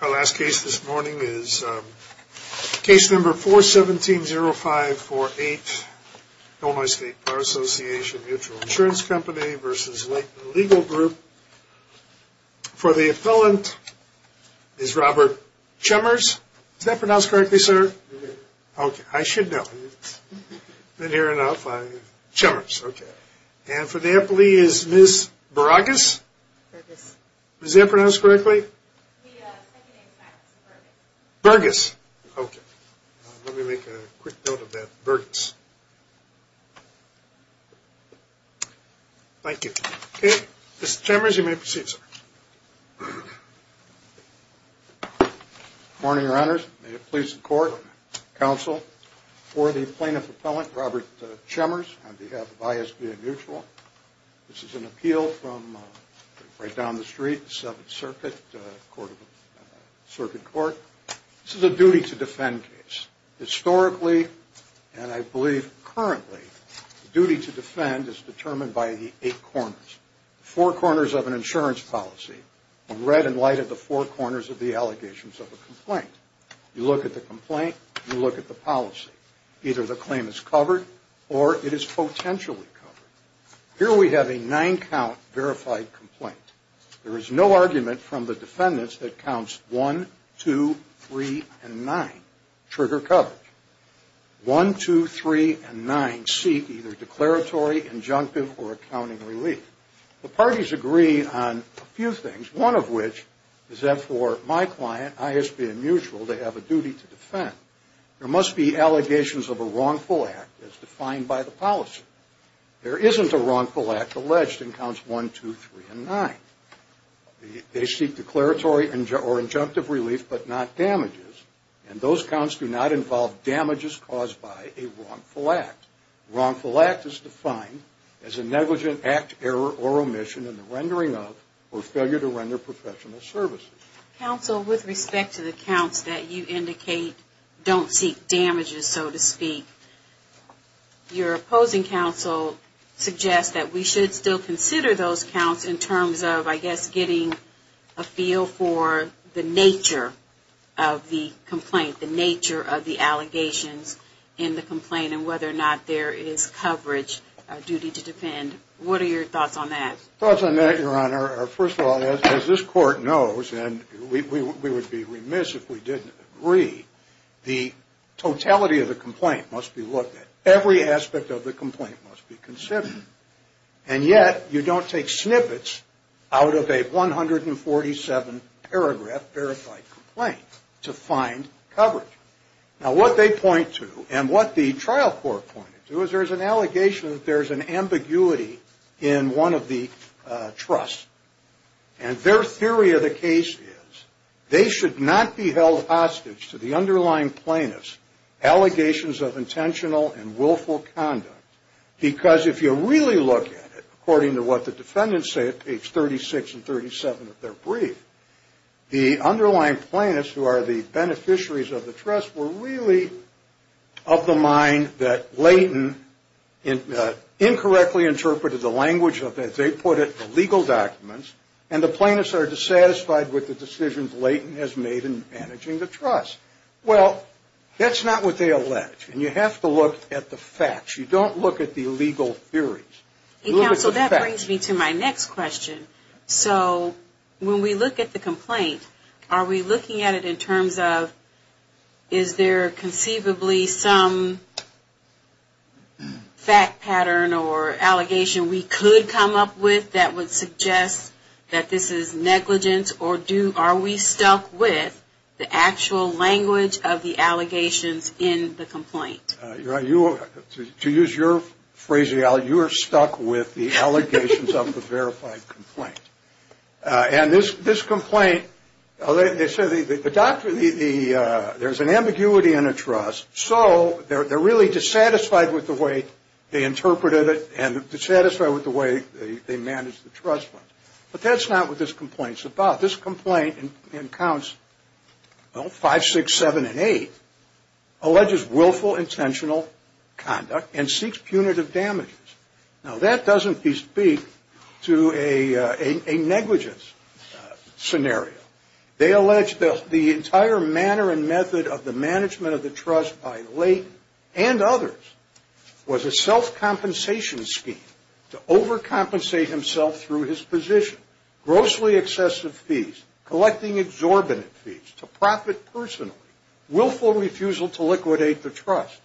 Our last case this morning is case number 417-0548, Illinois State Bar Association Mutual Insurance Company v. Leighton Legal Group. For the appellant is Robert Chemmers. Is that pronounced correctly, sir? Okay, I should know. I've been here enough. Chemmers, okay. And for the appellee is Ms. Burgess. Is that pronounced correctly? Burgess, okay. Let me make a quick note of that, Burgess. Thank you. Okay, Mr. Chemmers, you may proceed, sir. Good morning, Your Honors. May it please the Court, Counsel, for the plaintiff appellant, Robert Chemmers, on behalf of I.S.B.A. Mutual. This is an appeal from right down the street, Seventh Circuit Court. This is a duty to defend case. Historically, and I believe currently, duty to defend is determined by the eight corners. The four corners of an insurance policy are read in light of the four corners of the allegations of a complaint. You look at the complaint, you look at the policy. Either the claim is covered or it is potentially covered. Here we have a nine-count verified complaint. There is no argument from the defendants that counts 1, 2, 3, and 9 trigger coverage. 1, 2, 3, and 9 seek either declaratory, injunctive, or accounting relief. The parties agree on a few things, one of which is that for my client, I.S.B.A. Mutual, they have a duty to defend. There must be allegations of a wrongful act as defined by the policy. There isn't a wrongful act alleged in counts 1, 2, 3, and 9. They seek declaratory or injunctive relief, but not damages. And those counts do not involve damages caused by a wrongful act. A wrongful act is defined as a negligent act, error, or omission in the rendering of or failure to render professional services. Counsel, with respect to the counts that you indicate don't seek damages, so to speak, your opposing counsel suggests that we should still consider those counts in terms of, I guess, getting a feel for the nature of the complaint, the nature of the allegations in the complaint, and whether or not there is coverage, a duty to defend. What are your thoughts on that? Thoughts on that, Your Honor, are first of all, as this Court knows, and we would be remiss if we didn't agree, the totality of the complaint must be looked at. Every aspect of the complaint must be considered. And yet, you don't take snippets out of a 147-paragraph verified complaint to find coverage. Now, what they point to, and what the trial court pointed to, is there is an allegation that there is an ambiguity in one of the trusts. And their theory of the case is they should not be held hostage to the underlying plaintiffs' allegations of intentional and willful conduct, because if you really look at it, according to what the defendants say at page 36 and 37 of their brief, the underlying plaintiffs, who are the beneficiaries of the trust, were really of the mind that Leighton incorrectly interpreted the language of it. They put it in legal documents, and the plaintiffs are dissatisfied with the decisions Leighton has made in managing the trust. Well, that's not what they allege, and you have to look at the facts. You don't look at the legal theories. Counsel, that brings me to my next question. So when we look at the complaint, are we looking at it in terms of, is there conceivably some fact pattern or allegation we could come up with that would suggest that this is negligent, or are we stuck with the actual language of the allegations in the complaint? To use your phrasing, you are stuck with the allegations of the verified complaint. And this complaint, they say there's an ambiguity in a trust, so they're really dissatisfied with the way they interpreted it and dissatisfied with the way they managed the trust fund. But that's not what this complaint's about. This complaint in counts 5, 6, 7, and 8 alleges willful, intentional conduct and seeks punitive damages. Now, that doesn't speak to a negligence scenario. They allege the entire manner and method of the management of the trust by Leighton and others was a self-compensation scheme to overcompensate himself through his position, grossly excessive fees, collecting exorbitant fees to profit personally, willful refusal to liquidate the trust,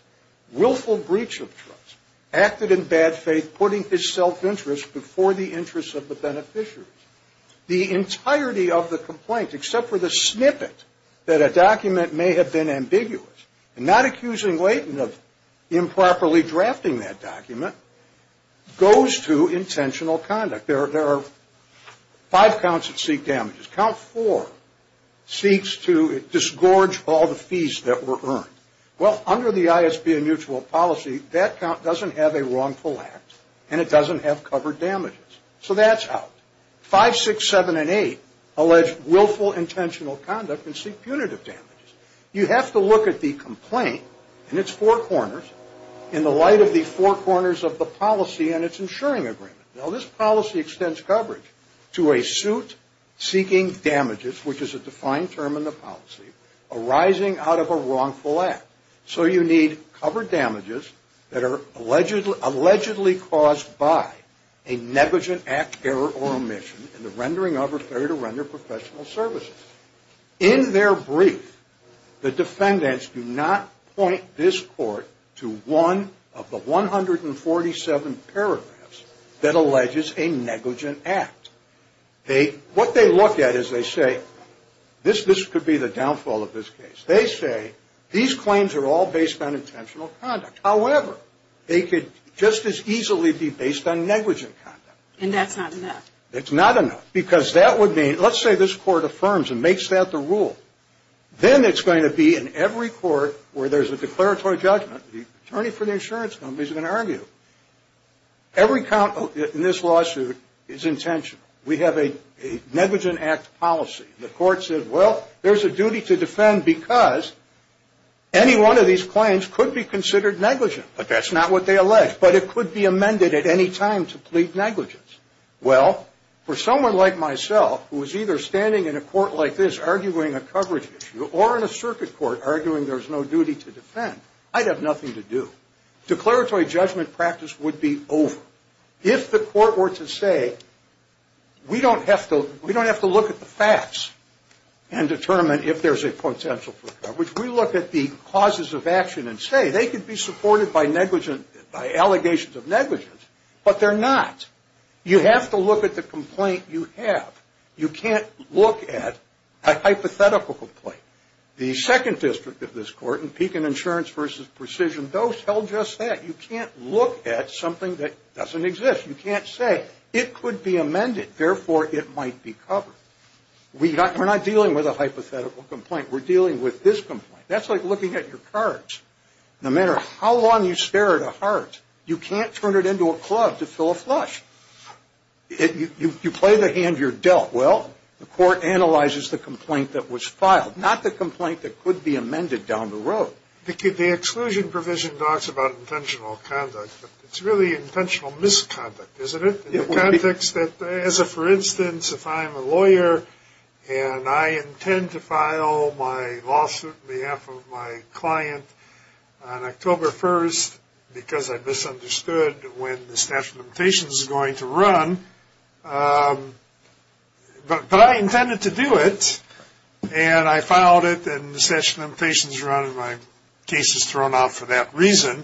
willful breach of trust, acted in bad faith, putting his self-interest before the interests of the beneficiaries. The entirety of the complaint, except for the snippet that a document may have been ambiguous, and not accusing Leighton of improperly drafting that document, goes to intentional conduct. There are five counts that seek damages. Count 4 seeks to disgorge all the fees that were earned. Well, under the ISP and mutual policy, that count doesn't have a wrongful act, and it doesn't have covered damages. So that's out. 5, 6, 7, and 8 allege willful, intentional conduct and seek punitive damages. You have to look at the complaint in its four corners in the light of the four corners of the policy and its insuring agreement. Now, this policy extends coverage to a suit seeking damages, which is a defined term in the policy, arising out of a wrongful act. So you need covered damages that are allegedly caused by a negligent act, error, or omission in the rendering of or failure to render professional services. In their brief, the defendants do not point this court to one of the 147 paragraphs that alleges a negligent act. What they look at is they say, this could be the downfall of this case. They say these claims are all based on intentional conduct. However, they could just as easily be based on negligent conduct. And that's not enough. It's not enough. Because that would mean, let's say this court affirms and makes that the rule. Then it's going to be in every court where there's a declaratory judgment, the attorney for the insurance company is going to argue. Every count in this lawsuit is intentional. We have a negligent act policy. The court said, well, there's a duty to defend because any one of these claims could be considered negligent. But that's not what they allege. But it could be amended at any time to plead negligence. Well, for someone like myself who is either standing in a court like this arguing a coverage issue or in a circuit court arguing there's no duty to defend, I'd have nothing to do. Declaratory judgment practice would be over. If the court were to say, we don't have to look at the facts and determine if there's a potential for coverage. We look at the causes of action and say they could be supported by allegations of negligence, but they're not. You have to look at the complaint you have. You can't look at a hypothetical complaint. The second district of this court in Pekin Insurance v. Precision, those held just that. You can't look at something that doesn't exist. You can't say it could be amended, therefore it might be covered. We're not dealing with a hypothetical complaint. We're dealing with this complaint. That's like looking at your cards. No matter how long you stare at a heart, you can't turn it into a club to fill a flush. You play the hand you're dealt. Well, the court analyzes the complaint that was filed, not the complaint that could be amended down the road. The exclusion provision talks about intentional conduct, but it's really intentional misconduct, isn't it? For instance, if I'm a lawyer and I intend to file my lawsuit on behalf of my client on October 1st because I misunderstood when the statute of limitations is going to run, but I intended to do it, and I filed it and the statute of limitations is running, my case is thrown out for that reason,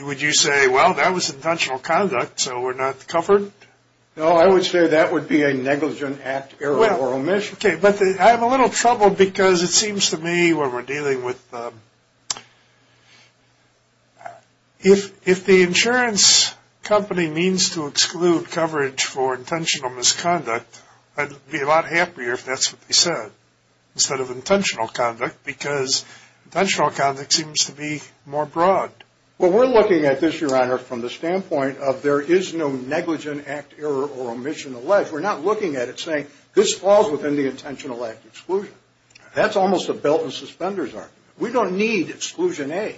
would you say, well, that was intentional conduct, so we're not covered? No, I would say that would be a negligent act error or omission. Okay, but I have a little trouble because it seems to me when we're dealing with, if the insurance company means to exclude coverage for intentional misconduct, I'd be a lot happier if that's what they said instead of intentional conduct because intentional conduct seems to be more broad. Well, we're looking at this, Your Honor, from the standpoint of there is no negligent act error or omission alleged. We're not looking at it saying this falls within the intentional act exclusion. That's almost a belt and suspenders argument. We don't need exclusion A.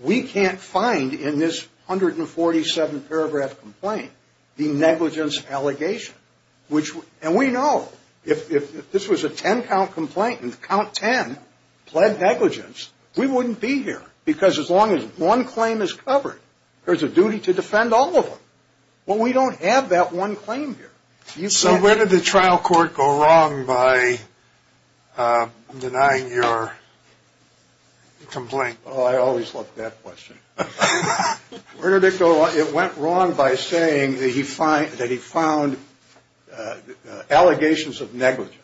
We can't find in this 147-paragraph complaint the negligence allegation, and we know if this was a 10-count complaint and count 10 pled negligence, we wouldn't be here because as long as one claim is covered, there's a duty to defend all of them. Well, we don't have that one claim here. So where did the trial court go wrong by denying your complaint? Oh, I always love that question. Where did it go wrong? It went wrong by saying that he found allegations of negligence.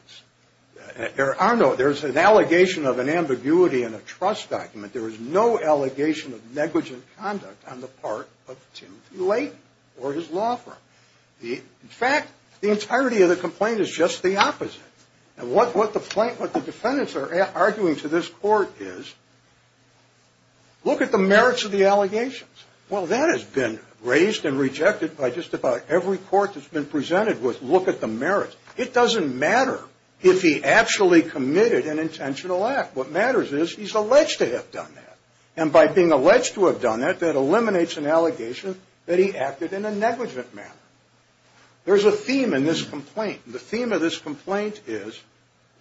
There's an allegation of an ambiguity in a trust document. There is no allegation of negligent conduct on the part of Timothy Layton or his law firm. In fact, the entirety of the complaint is just the opposite. And what the defendants are arguing to this court is look at the merits of the allegations. Well, that has been raised and rejected by just about every court that's been presented with look at the merits. It doesn't matter if he actually committed an intentional act. What matters is he's alleged to have done that, and by being alleged to have done that, that eliminates an allegation that he acted in a negligent manner. There's a theme in this complaint. The theme of this complaint is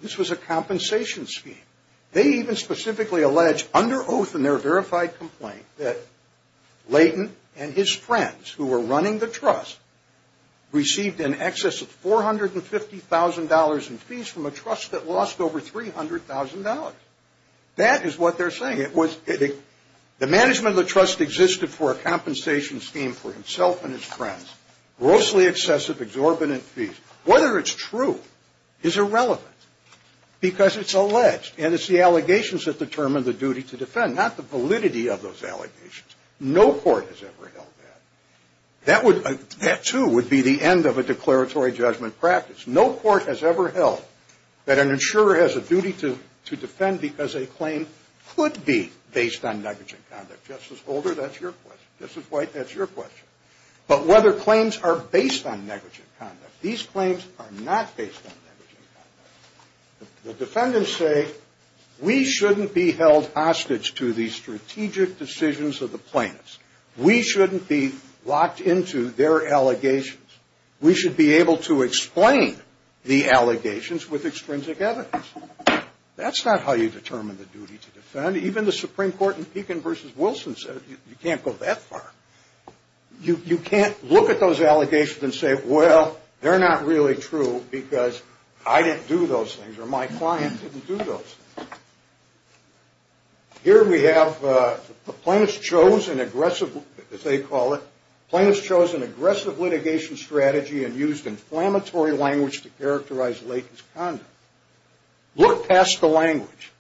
this was a compensation scheme. They even specifically allege, under oath in their verified complaint, that Layton and his friends, who were running the trust, received in excess of $450,000 in fees from a trust that lost over $300,000. That is what they're saying. It was the management of the trust existed for a compensation scheme for himself and his friends. Grossly excessive, exorbitant fees. Whether it's true is irrelevant because it's alleged, and it's the allegations that determine the duty to defend, not the validity of those allegations. No court has ever held that. That would – that, too, would be the end of a declaratory judgment practice. No court has ever held that an insurer has a duty to defend because a claim could be based on negligent conduct. Justice Holder, that's your question. Justice White, that's your question. But whether claims are based on negligent conduct, these claims are not based on negligent conduct. The defendants say we shouldn't be held hostage to the strategic decisions of the plaintiffs. We shouldn't be locked into their allegations. We should be able to explain the allegations with extrinsic evidence. That's not how you determine the duty to defend. Even the Supreme Court in Pekin v. Wilson said you can't go that far. You can't look at those allegations and say, well, they're not really true because I didn't do those things or my client didn't do those things. Here we have the plaintiffs chose an aggressive, as they call it, plaintiffs chose an aggressive litigation strategy and used inflammatory language to characterize Lake's conduct. Look past the language.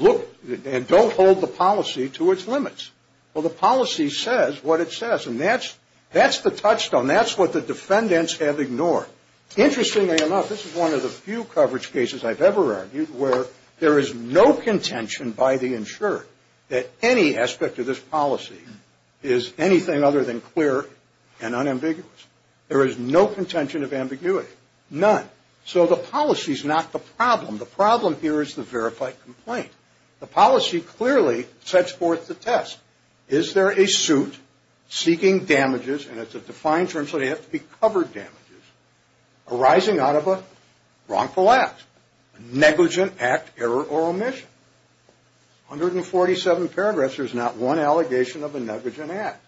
Look – and don't hold the policy to its limits. Well, the policy says what it says. And that's the touchstone. That's what the defendants have ignored. Interestingly enough, this is one of the few coverage cases I've ever argued where there is no contention by the insurer that any aspect of this policy is anything other than clear and unambiguous. There is no contention of ambiguity. None. So the policy is not the problem. The problem here is the verified complaint. The policy clearly sets forth the test. Is there a suit seeking damages, and it's a defined term so they have to be covered damages, arising out of a wrongful act, negligent act, error, or omission? 147 paragraphs. There's not one allegation of a negligent act.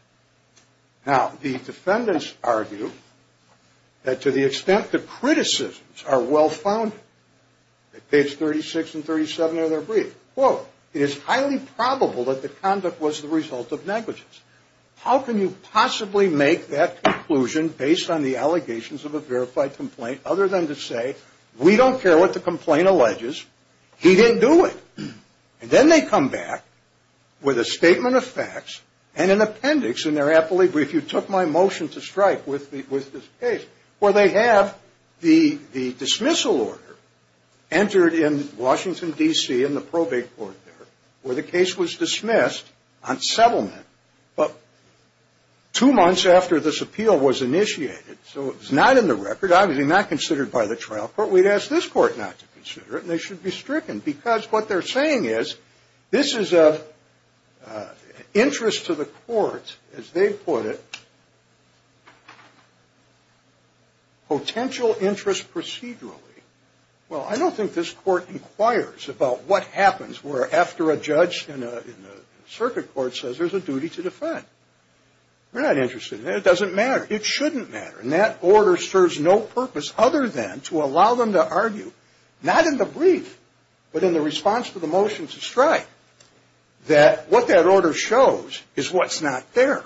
Now, the defendants argue that to the extent the criticisms are well-founded, at page 36 and 37 of their brief, quote, it is highly probable that the conduct was the result of negligence. How can you possibly make that conclusion based on the allegations of a verified complaint other than to say, we don't care what the complaint alleges. He didn't do it. And then they come back with a statement of facts and an appendix in their appellate brief, to strike with this case, where they have the dismissal order entered in Washington, D.C. in the probate court there, where the case was dismissed on settlement. But two months after this appeal was initiated, so it was not in the record, obviously not considered by the trial court, we'd ask this court not to consider it, and they should be stricken. Because what they're saying is, this is an interest to the court, as they put it, potential interest procedurally. Well, I don't think this court inquires about what happens where, after a judge in the circuit court says there's a duty to defend. We're not interested in that. It doesn't matter. It shouldn't matter. And that order serves no purpose other than to allow them to argue, not in the brief, but in the response to the motion to strike, that what that order shows is what's not there.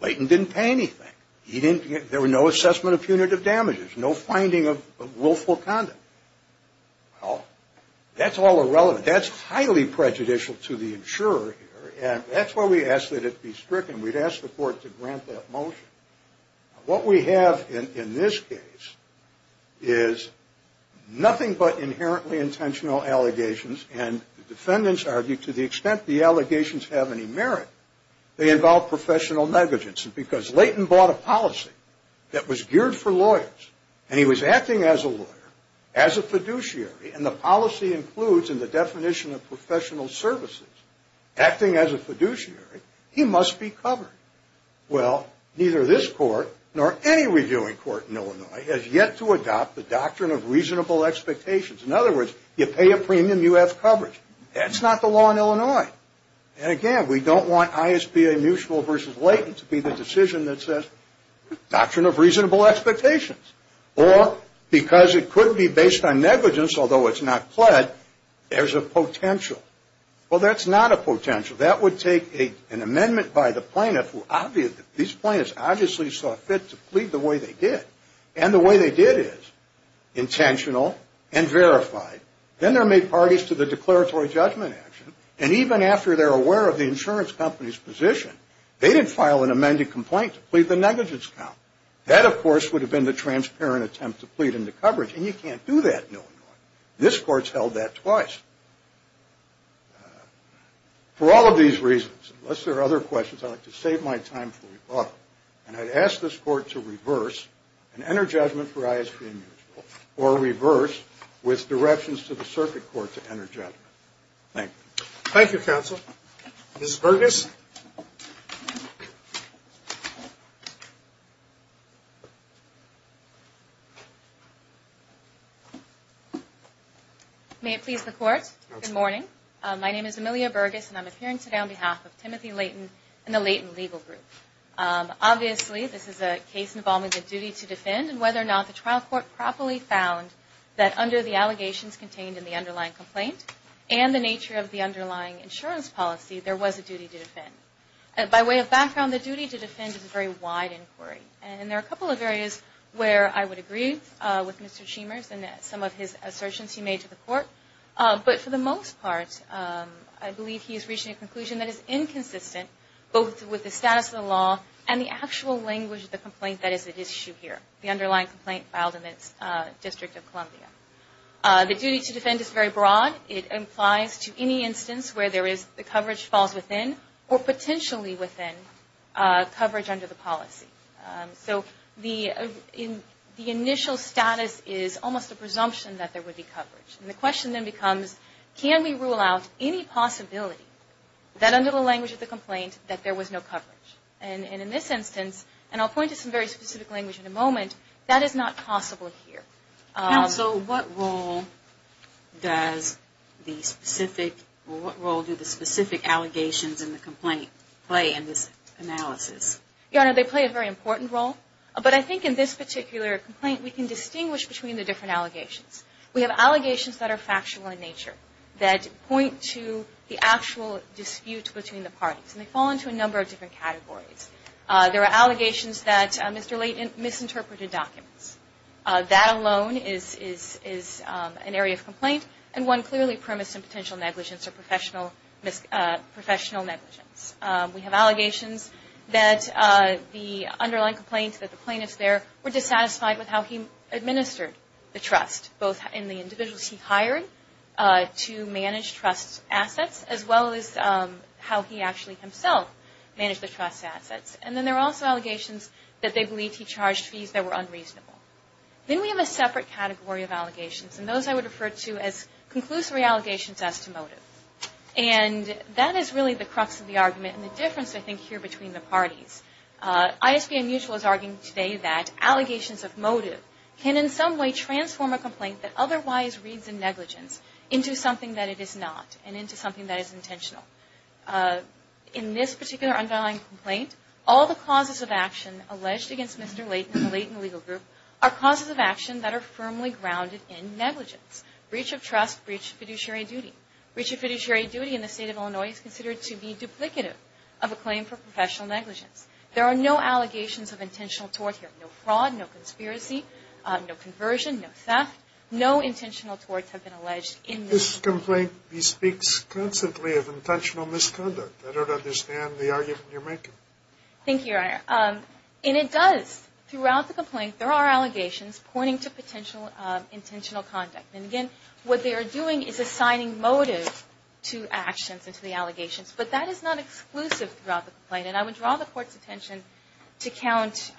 Layton didn't pay anything. There were no assessment of punitive damages, no finding of willful conduct. Well, that's all irrelevant. That's highly prejudicial to the insurer here, and that's why we ask that it be stricken. We'd ask the court to grant that motion. What we have in this case is nothing but inherently intentional allegations, and the defendants argue to the extent the allegations have any merit, they involve professional negligence. And because Layton bought a policy that was geared for lawyers, and he was acting as a lawyer, as a fiduciary, and the policy includes in the definition of professional services, acting as a fiduciary, he must be covered. Well, neither this court nor any reviewing court in Illinois has yet to adopt the doctrine of reasonable expectations. In other words, you pay a premium, you have coverage. That's not the law in Illinois. And again, we don't want ISPA mutual versus Layton to be the decision that says doctrine of reasonable expectations. Or because it could be based on negligence, although it's not pled, there's a potential. Well, that's not a potential. That would take an amendment by the plaintiff. These plaintiffs obviously saw fit to plead the way they did, and the way they did is intentional and verified. Then they're made parties to the declaratory judgment action, and even after they're aware of the insurance company's position, they didn't file an amended complaint to plead the negligence count. That, of course, would have been the transparent attempt to plead into coverage, and you can't do that in Illinois. This court's held that twice. For all of these reasons, unless there are other questions, I'd like to save my time for rebuttal, and I'd ask this court to reverse and enter judgment for ISPA mutual, or reverse with directions to the circuit court to enter judgment. Thank you. Thank you, counsel. Ms. Bergus. May it please the court? Good morning. My name is Amelia Bergus, and I'm appearing today on behalf of Timothy Layton and the Layton Legal Group. Obviously, this is a case involving the duty to defend, and whether or not the trial court properly found that under the allegations contained in the underlying complaint and the nature of the underlying insurance policy, there was a duty to defend. By way of background, the duty to defend is a very wide inquiry, and there are a couple of areas where I would agree with Mr. Chemers and some of his assertions he made to the court. But for the most part, I believe he is reaching a conclusion that is inconsistent, both with the status of the law and the actual language of the complaint that is at issue here, the underlying complaint filed in the District of Columbia. The duty to defend is very broad. It applies to any instance where the coverage falls within or potentially within coverage under the policy. So the initial status is almost a presumption that there would be coverage. And the question then becomes, can we rule out any possibility that under the language of the complaint that there was no coverage? And in this instance, and I'll point to some very specific language in a moment, that is not possible here. Counsel, what role does the specific, or what role do the specific allegations in the complaint play in this analysis? Your Honor, they play a very important role. But I think in this particular complaint, we can distinguish between the different allegations. We have allegations that are factual in nature, that point to the actual dispute between the parties, and they fall into a number of different categories. There are allegations that Mr. Leighton misinterpreted documents. That alone is an area of complaint. And one clearly premised in potential negligence or professional negligence. We have allegations that the underlying complaint, that the plaintiffs there, were dissatisfied with how he administered the trust, both in the individuals he hired to manage trust assets, as well as how he actually himself managed the trust assets. And then there are also allegations that they believe he charged fees that were unreasonable. Then we have a separate category of allegations, and those I would refer to as conclusory allegations as to motive. And that is really the crux of the argument and the difference, I think, here between the parties. ISBN Mutual is arguing today that allegations of motive can in some way transform a complaint that otherwise reads in negligence into something that it is not, and into something that is intentional. In this particular underlying complaint, all the causes of action alleged against Mr. Leighton and the Leighton Legal Group are causes of action that are firmly grounded in negligence. Breach of trust, breach of fiduciary duty. Breach of fiduciary duty in the state of Illinois is considered to be duplicative of a claim for professional negligence. There are no allegations of intentional tort here. No fraud, no conspiracy, no conversion, no theft. No intentional torts have been alleged in this case. This complaint speaks constantly of intentional misconduct. I don't understand the argument you're making. Thank you, Your Honor. And it does. Throughout the complaint, there are allegations pointing to potential intentional conduct. And again, what they are doing is assigning motive to actions and to the allegations. But that is not exclusive throughout the complaint. And I would draw the Court's attention to count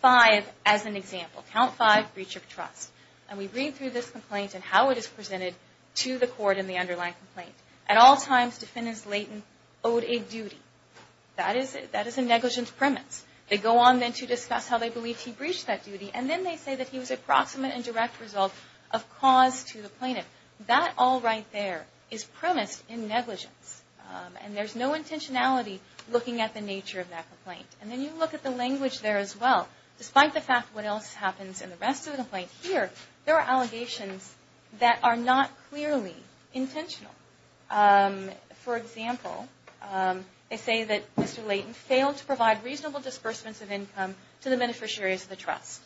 five as an example. Count five, breach of trust. And we read through this complaint and how it is presented to the Court in the underlying complaint. At all times, defendants Leighton owed a duty. That is a negligence premise. They go on then to discuss how they believe he breached that duty. And then they say that he was a proximate and direct result of cause to the plaintiff. That all right there is premised in negligence. And there's no intentionality looking at the nature of that complaint. And then you look at the language there as well. Despite the fact what else happens in the rest of the complaint here, there are allegations that are not clearly intentional. For example, they say that Mr. Leighton failed to provide reasonable disbursements of income to the beneficiaries of the trust.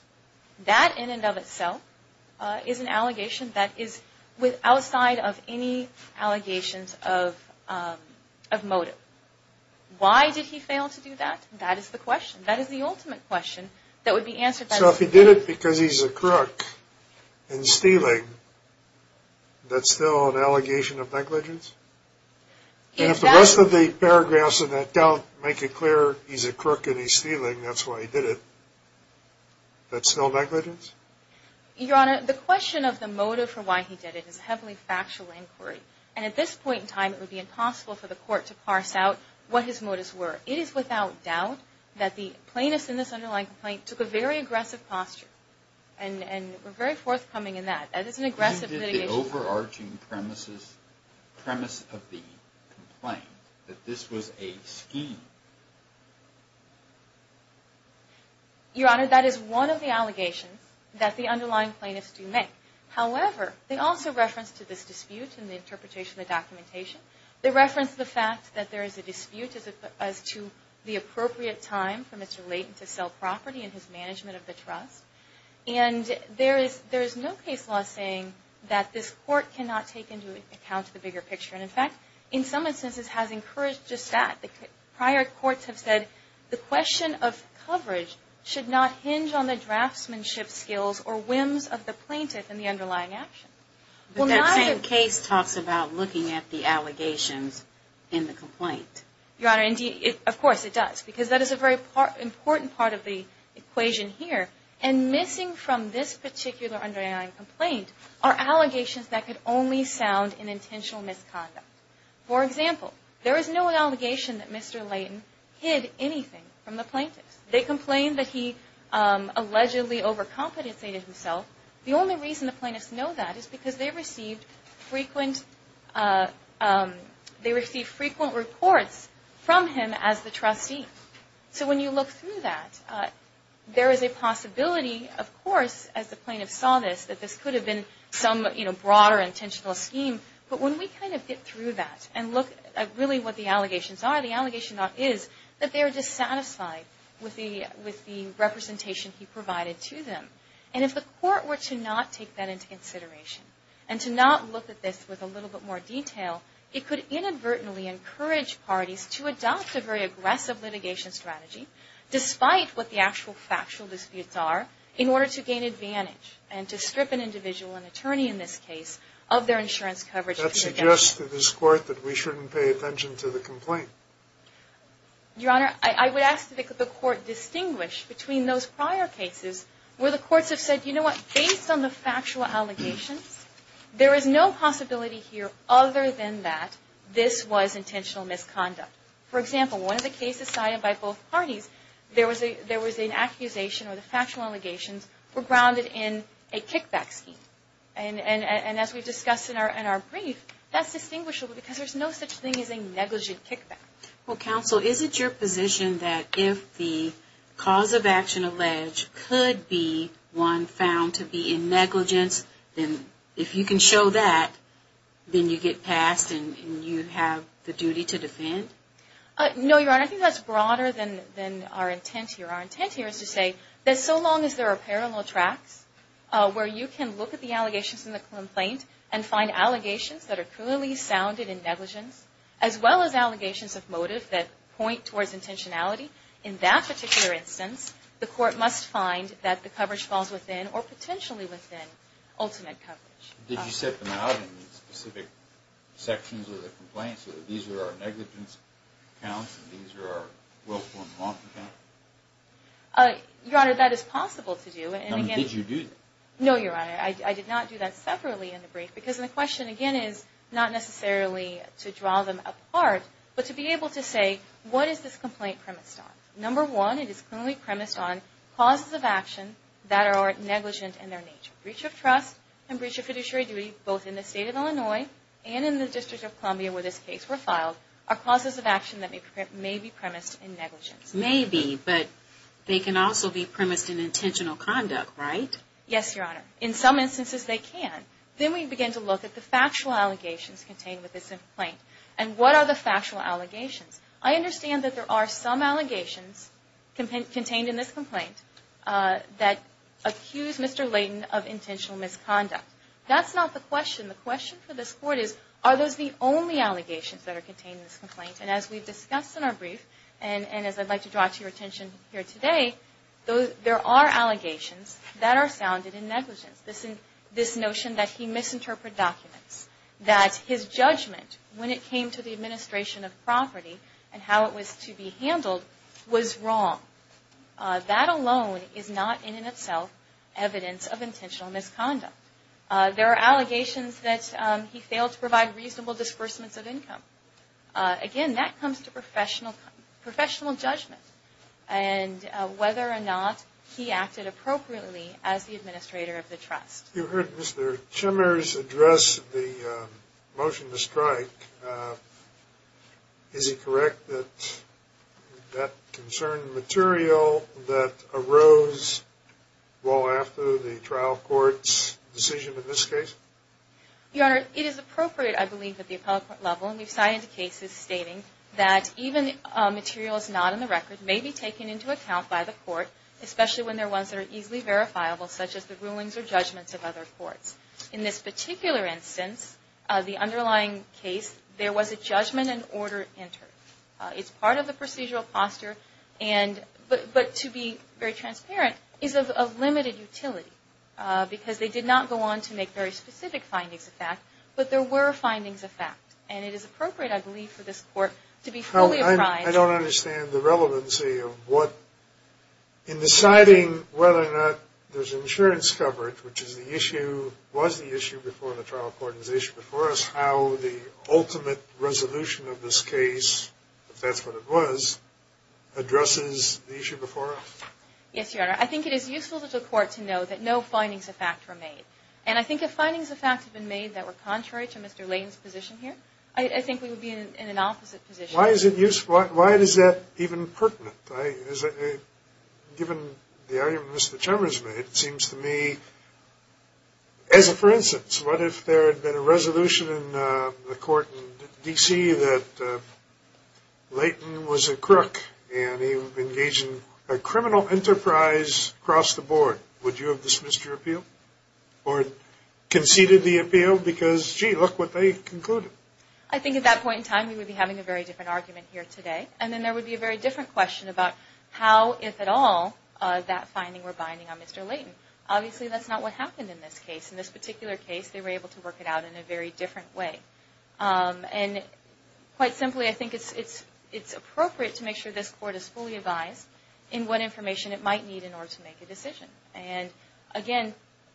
That in and of itself is an allegation that is outside of any allegations of motive. Why did he fail to do that? That is the question. So if he did it because he's a crook and stealing, that's still an allegation of negligence? And if the rest of the paragraphs of that doubt make it clear he's a crook and he's stealing, that's why he did it, that's still negligence? Your Honor, the question of the motive for why he did it is a heavily factual inquiry. And at this point in time, it would be impossible for the Court to parse out what his motives were. It is without doubt that the plaintiffs in this underlying complaint took a very aggressive posture and were very forthcoming in that. That is an aggressive litigation. Why did the overarching premise of the complaint, that this was a scheme? Your Honor, that is one of the allegations that the underlying plaintiffs do make. However, they also reference to this dispute in the interpretation of the documentation. They reference the fact that there is a dispute as to the appropriate time for Mr. Layton to sell property and his management of the trust. And there is no case law saying that this Court cannot take into account the bigger picture. And, in fact, in some instances has encouraged just that. Prior courts have said the question of coverage should not hinge on the draftsmanship skills or whims of the plaintiff in the underlying action. But that same case talks about looking at the allegations in the complaint. Your Honor, of course it does. Because that is a very important part of the equation here. And missing from this particular underlying complaint are allegations that could only sound in intentional misconduct. For example, there is no allegation that Mr. Layton hid anything from the plaintiffs. They complained that he allegedly overcompensated himself. The only reason the plaintiffs know that is because they received frequent reports from him as the trustee. So when you look through that, there is a possibility, of course, as the plaintiffs saw this, that this could have been some broader intentional scheme. But when we kind of get through that and look at really what the allegations are, the allegation is that they are dissatisfied with the representation he provided to them. And if the court were to not take that into consideration and to not look at this with a little bit more detail, it could inadvertently encourage parties to adopt a very aggressive litigation strategy, despite what the actual factual disputes are, in order to gain advantage and to strip an individual, an attorney in this case, of their insurance coverage. That suggests to this Court that we shouldn't pay attention to the complaint. Your Honor, I would ask that the Court distinguish between those prior cases where the courts have said, you know what, based on the factual allegations, there is no possibility here other than that this was intentional misconduct. For example, one of the cases cited by both parties, there was an accusation where the factual allegations were grounded in a kickback scheme. And as we discussed in our brief, that's distinguishable because there's no such thing as a negligent kickback. Well, Counsel, is it your position that if the cause of action alleged could be one found to be in negligence, then if you can show that, then you get passed and you have the duty to defend? No, Your Honor, I think that's broader than our intent here. Our intent here is to say that so long as there are parallel tracks where you can look at the allegations in the complaint and find allegations that are clearly sounded in negligence, as well as allegations of motive that point towards intentionality, in that particular instance, the Court must find that the coverage falls within, or potentially within, ultimate coverage. Did you set them out in specific sections of the complaint so that these are our negligence counts and these are our willful and lawful counts? Your Honor, that is possible to do. Did you do that? No, Your Honor, I did not do that separately in the brief because the question, again, is not necessarily to draw them apart, but to be able to say what is this complaint premised on. Number one, it is clearly premised on causes of action that are negligent in their nature. Breach of trust and breach of fiduciary duty, both in the State of Illinois and in the District of Columbia where this case was filed, are causes of action that may be premised in negligence. Maybe, but they can also be premised in intentional conduct, right? Yes, Your Honor. In some instances, they can. Then we begin to look at the factual allegations contained with this complaint. And what are the factual allegations? I understand that there are some allegations contained in this complaint that accuse Mr. Layton of intentional misconduct. That's not the question. The question for this Court is, are those the only allegations that are contained in this complaint? And as we've discussed in our brief, and as I'd like to draw to your attention here today, there are allegations that are sounded in negligence. This notion that he misinterpreted documents, that his judgment when it came to the administration of property and how it was to be handled was wrong. That alone is not in itself evidence of intentional misconduct. There are allegations that he failed to provide reasonable disbursements of income. Again, that comes to professional judgment and whether or not he acted appropriately as the administrator of the trust. You heard Mr. Chimmers address the motion to strike. Is he correct that that concerned material that arose well after the trial court's decision in this case? Your Honor, it is appropriate, I believe, at the appellate court level, and we've cited cases stating that even materials not on the record may be taken into account by the court, especially when they're ones that are easily verifiable, such as the rulings or judgments of other courts. In this particular instance, the underlying case, there was a judgment and order entered. It's part of the procedural posture, but to be very transparent, is of limited utility because they did not go on to make very specific findings of fact, but there were findings of fact, and it is appropriate, I believe, for this court to be fully apprised. I don't understand the relevancy of what, in deciding whether or not there's insurance coverage, which is the issue, was the issue before the trial court, is the issue before us, how the ultimate resolution of this case, if that's what it was, addresses the issue before us. Yes, Your Honor. I think it is useful for the court to know that no findings of fact were made, and I think if findings of fact had been made that were contrary to Mr. Lane's position here, I think we would be in an opposite position. Why is it useful? Why is that even pertinent? Given the argument Mr. Chalmers made, it seems to me, as a for instance, what if there had been a resolution in the court in D.C. that Layton was a crook and he engaged in a criminal enterprise across the board? Would you have dismissed your appeal or conceded the appeal? Because, gee, look what they concluded. I think at that point in time we would be having a very different argument here today, and then there would be a very different question about how, if at all, that finding were binding on Mr. Layton. Obviously, that's not what happened in this case. In this particular case, they were able to work it out in a very different way. Quite simply, I think it's appropriate to make sure this court is fully advised in what information it might need in order to make a decision. Again,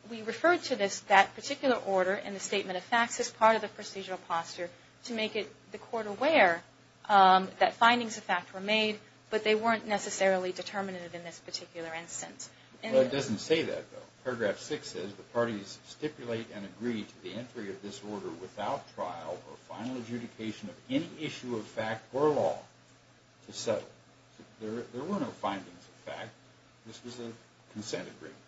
we refer to that particular order in the statement of facts as part of the procedural posture to make the court aware that findings of fact were made, but they weren't necessarily determinative in this particular instance. It doesn't say that, though. Paragraph 6 says the parties stipulate and agree to the entry of this order without trial or final adjudication of any issue of fact or law to settle. There were no findings of fact. This was a consent agreement.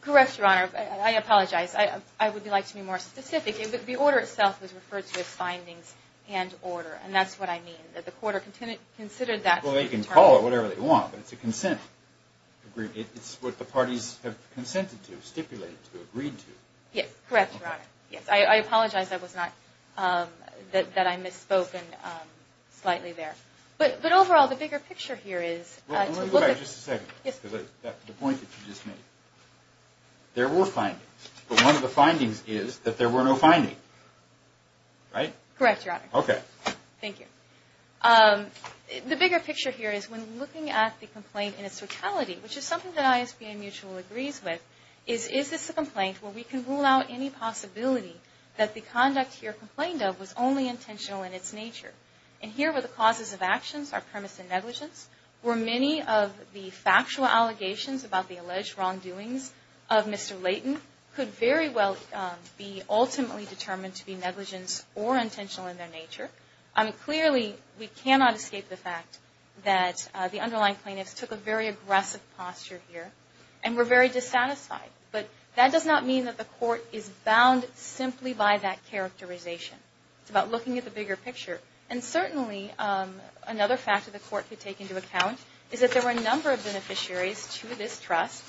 Correct, Your Honor. I apologize. I would like to be more specific. The order itself was referred to as findings and order, and that's what I mean, that the court considered that to be a term. Well, they can call it whatever they want, but it's a consent agreement. It's what the parties have consented to, stipulated to, agreed to. Yes, correct, Your Honor. Yes, I apologize that I misspoke slightly there. But overall, the bigger picture here is to look at the point that you just made. There were findings. But one of the findings is that there were no findings, right? Correct, Your Honor. Okay. Thank you. The bigger picture here is when looking at the complaint in its totality, which is something that ISBN Mutual agrees with, is, is this a complaint where we can rule out any possibility that the conduct here complained of was only intentional in its nature? And here where the causes of actions are premise and negligence, where many of the factual allegations about the alleged wrongdoings of Mr. Layton could very well be ultimately determined to be negligence or intentional in their nature. Clearly, we cannot escape the fact that the underlying plaintiffs took a very aggressive posture here and were very dissatisfied. But that does not mean that the court is bound simply by that characterization. It's about looking at the bigger picture. And certainly another fact that the court could take into account is that there were a number of beneficiaries to this trust,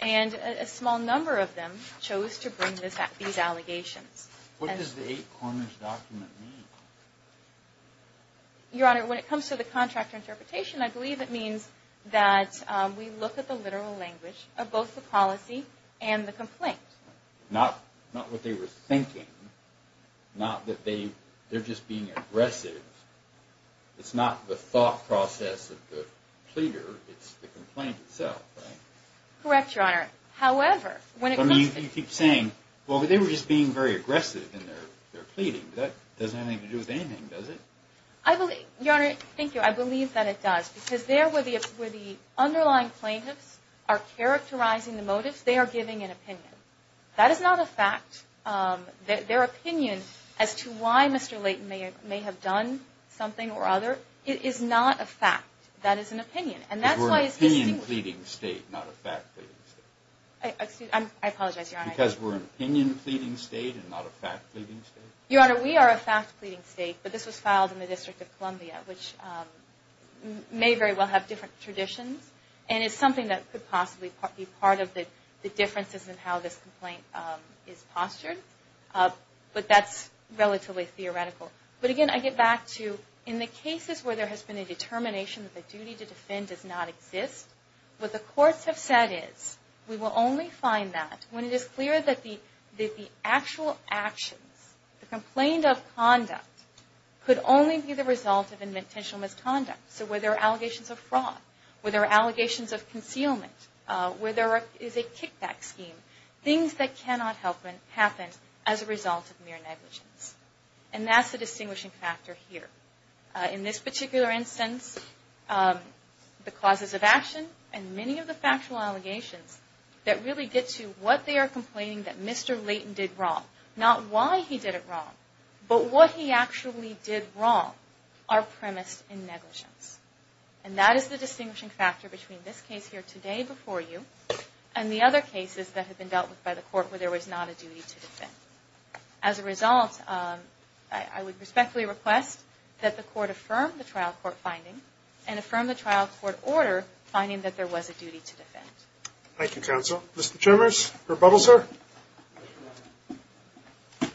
and a small number of them chose to bring these allegations. What does the eight corners document mean? Your Honor, when it comes to the contractor interpretation, I believe it means that we look at the literal language of both the policy and the complaint. Not what they were thinking. Not that they're just being aggressive. It's not the thought process of the pleader. It's the complaint itself. Correct, Your Honor. However, you keep saying, well, they were just being very aggressive in their pleading. That doesn't have anything to do with anything, does it? Your Honor, thank you. I believe that it does because there where the underlying plaintiffs are characterizing the motives, they are giving an opinion. That is not a fact. Their opinion as to why Mr. Layton may have done something or other is not a fact. That is an opinion. Because we're an opinion pleading state, not a fact pleading state. I apologize, Your Honor. Because we're an opinion pleading state and not a fact pleading state. Your Honor, we are a fact pleading state, but this was filed in the District of Columbia, which may very well have different traditions. And it's something that could possibly be part of the differences in how this complaint is postured. But that's relatively theoretical. But again, I get back to in the cases where there has been a determination that the duty to defend does not exist, what the courts have said is, we will only find that when it is clear that the actual actions, the complaint of conduct, could only be the result of intentional misconduct. So where there are allegations of fraud, where there are allegations of concealment, where there is a kickback scheme, things that cannot happen as a result of mere negligence. And that's the distinguishing factor here. In this particular instance, the causes of action and many of the factual allegations that really get to what they are complaining that Mr. Layton did wrong, not why he did it wrong, but what he actually did wrong, are premised in negligence. And that is the distinguishing factor between this case here today before you and the other cases that have been dealt with by the court where there was not a duty to defend. As a result, I would respectfully request that the court affirm the trial court finding and affirm the trial court order finding that there was a duty to defend. Mr. Chalmers, rebuttal, sir? The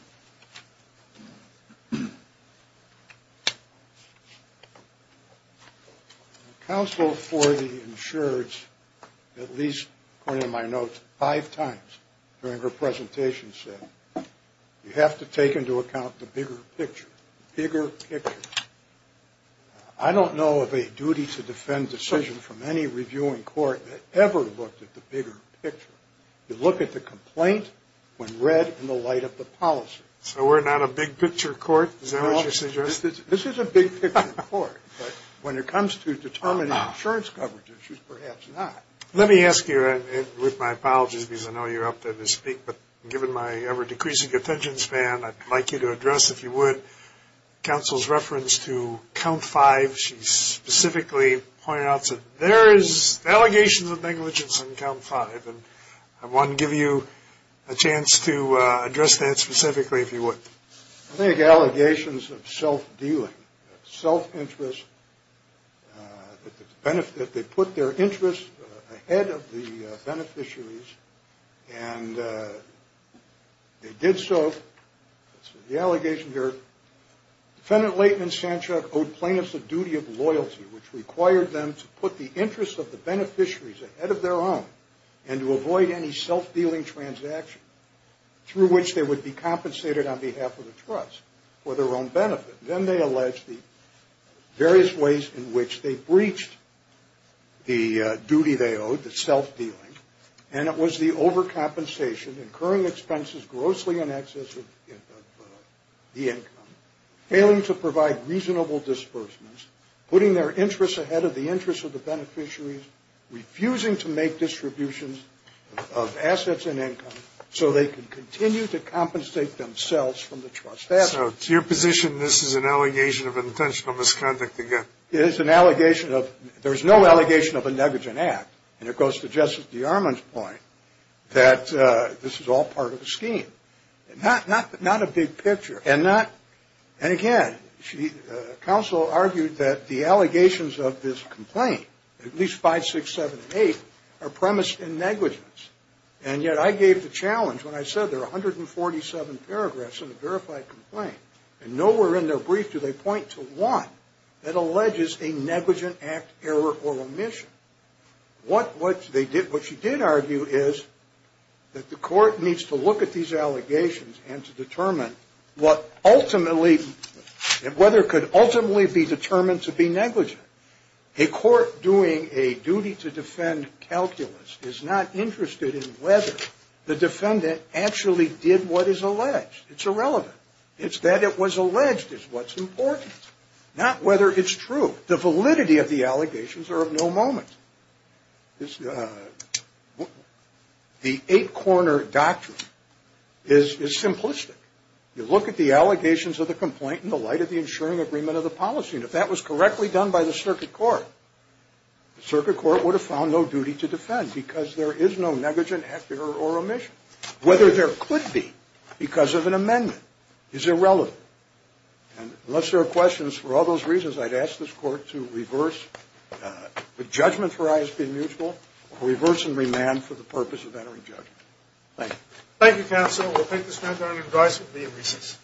counsel for the insureds, at least according to my notes, five times during her presentation said, you have to take into account the bigger picture. Bigger picture. I don't know of a duty to defend decision from any reviewing court that ever looked at the bigger picture. You look at the complaint when read in the light of the policy. So we're not a big picture court? Is that what you suggested? This is a big picture court. But when it comes to determining insurance coverage issues, perhaps not. Let me ask you, with my apologies because I know you're up there to speak, but given my ever decreasing attention span, I'd like you to address, if you would, counsel's reference to count five. She specifically pointed out that there is allegations of negligence on count five. And I want to give you a chance to address that specifically, if you would. I think allegations of self-dealing, self-interest, that they put their interests ahead of the beneficiaries, and they did so. The allegation here, defendant Layton and Sanchuk owed plaintiffs a duty of loyalty, which required them to put the interests of the beneficiaries ahead of their own, and to avoid any self-dealing transaction through which they would be compensated on behalf of the trust for their own benefit. Then they alleged the various ways in which they breached the duty they owed, the self-dealing, and it was the overcompensation, incurring expenses grossly in excess of the income, failing to provide reasonable disbursements, putting their interests ahead of the interests of the beneficiaries, refusing to make distributions of assets and income, so they could continue to compensate themselves from the trust. So to your position, this is an allegation of intentional misconduct again? It is an allegation of, there's no allegation of a negligent act, and it goes to Justice DeArmond's point, that this is all part of a scheme. Not a big picture, and not, and again, counsel argued that the allegations of this complaint, at least 5, 6, 7, and 8, are premised in negligence, and yet I gave the challenge when I said there are 147 paragraphs in the verified complaint, and nowhere in their brief do they point to one that alleges a negligent act, error, or omission. What she did argue is that the court needs to look at these allegations, and to determine what ultimately, whether it could ultimately be determined to be negligent. A court doing a duty to defend calculus is not interested in whether the defendant actually did what is alleged. It's irrelevant. It's that it was alleged is what's important. Not whether it's true. The validity of the allegations are of no moment. The 8-corner doctrine is simplistic. You look at the allegations of the complaint in the light of the ensuring agreement of the policy, and if that was correctly done by the circuit court, the circuit court would have found no duty to defend, because there is no negligent act, error, or omission. Whether there could be, because of an amendment, is irrelevant. And unless there are questions, for all those reasons, I'd ask this court to reverse the judgment for ISP mutual, or reverse and remand for the purpose of entering judgment. Thank you. Thank you, Counselor. We'll take this matter on advice and leave recess.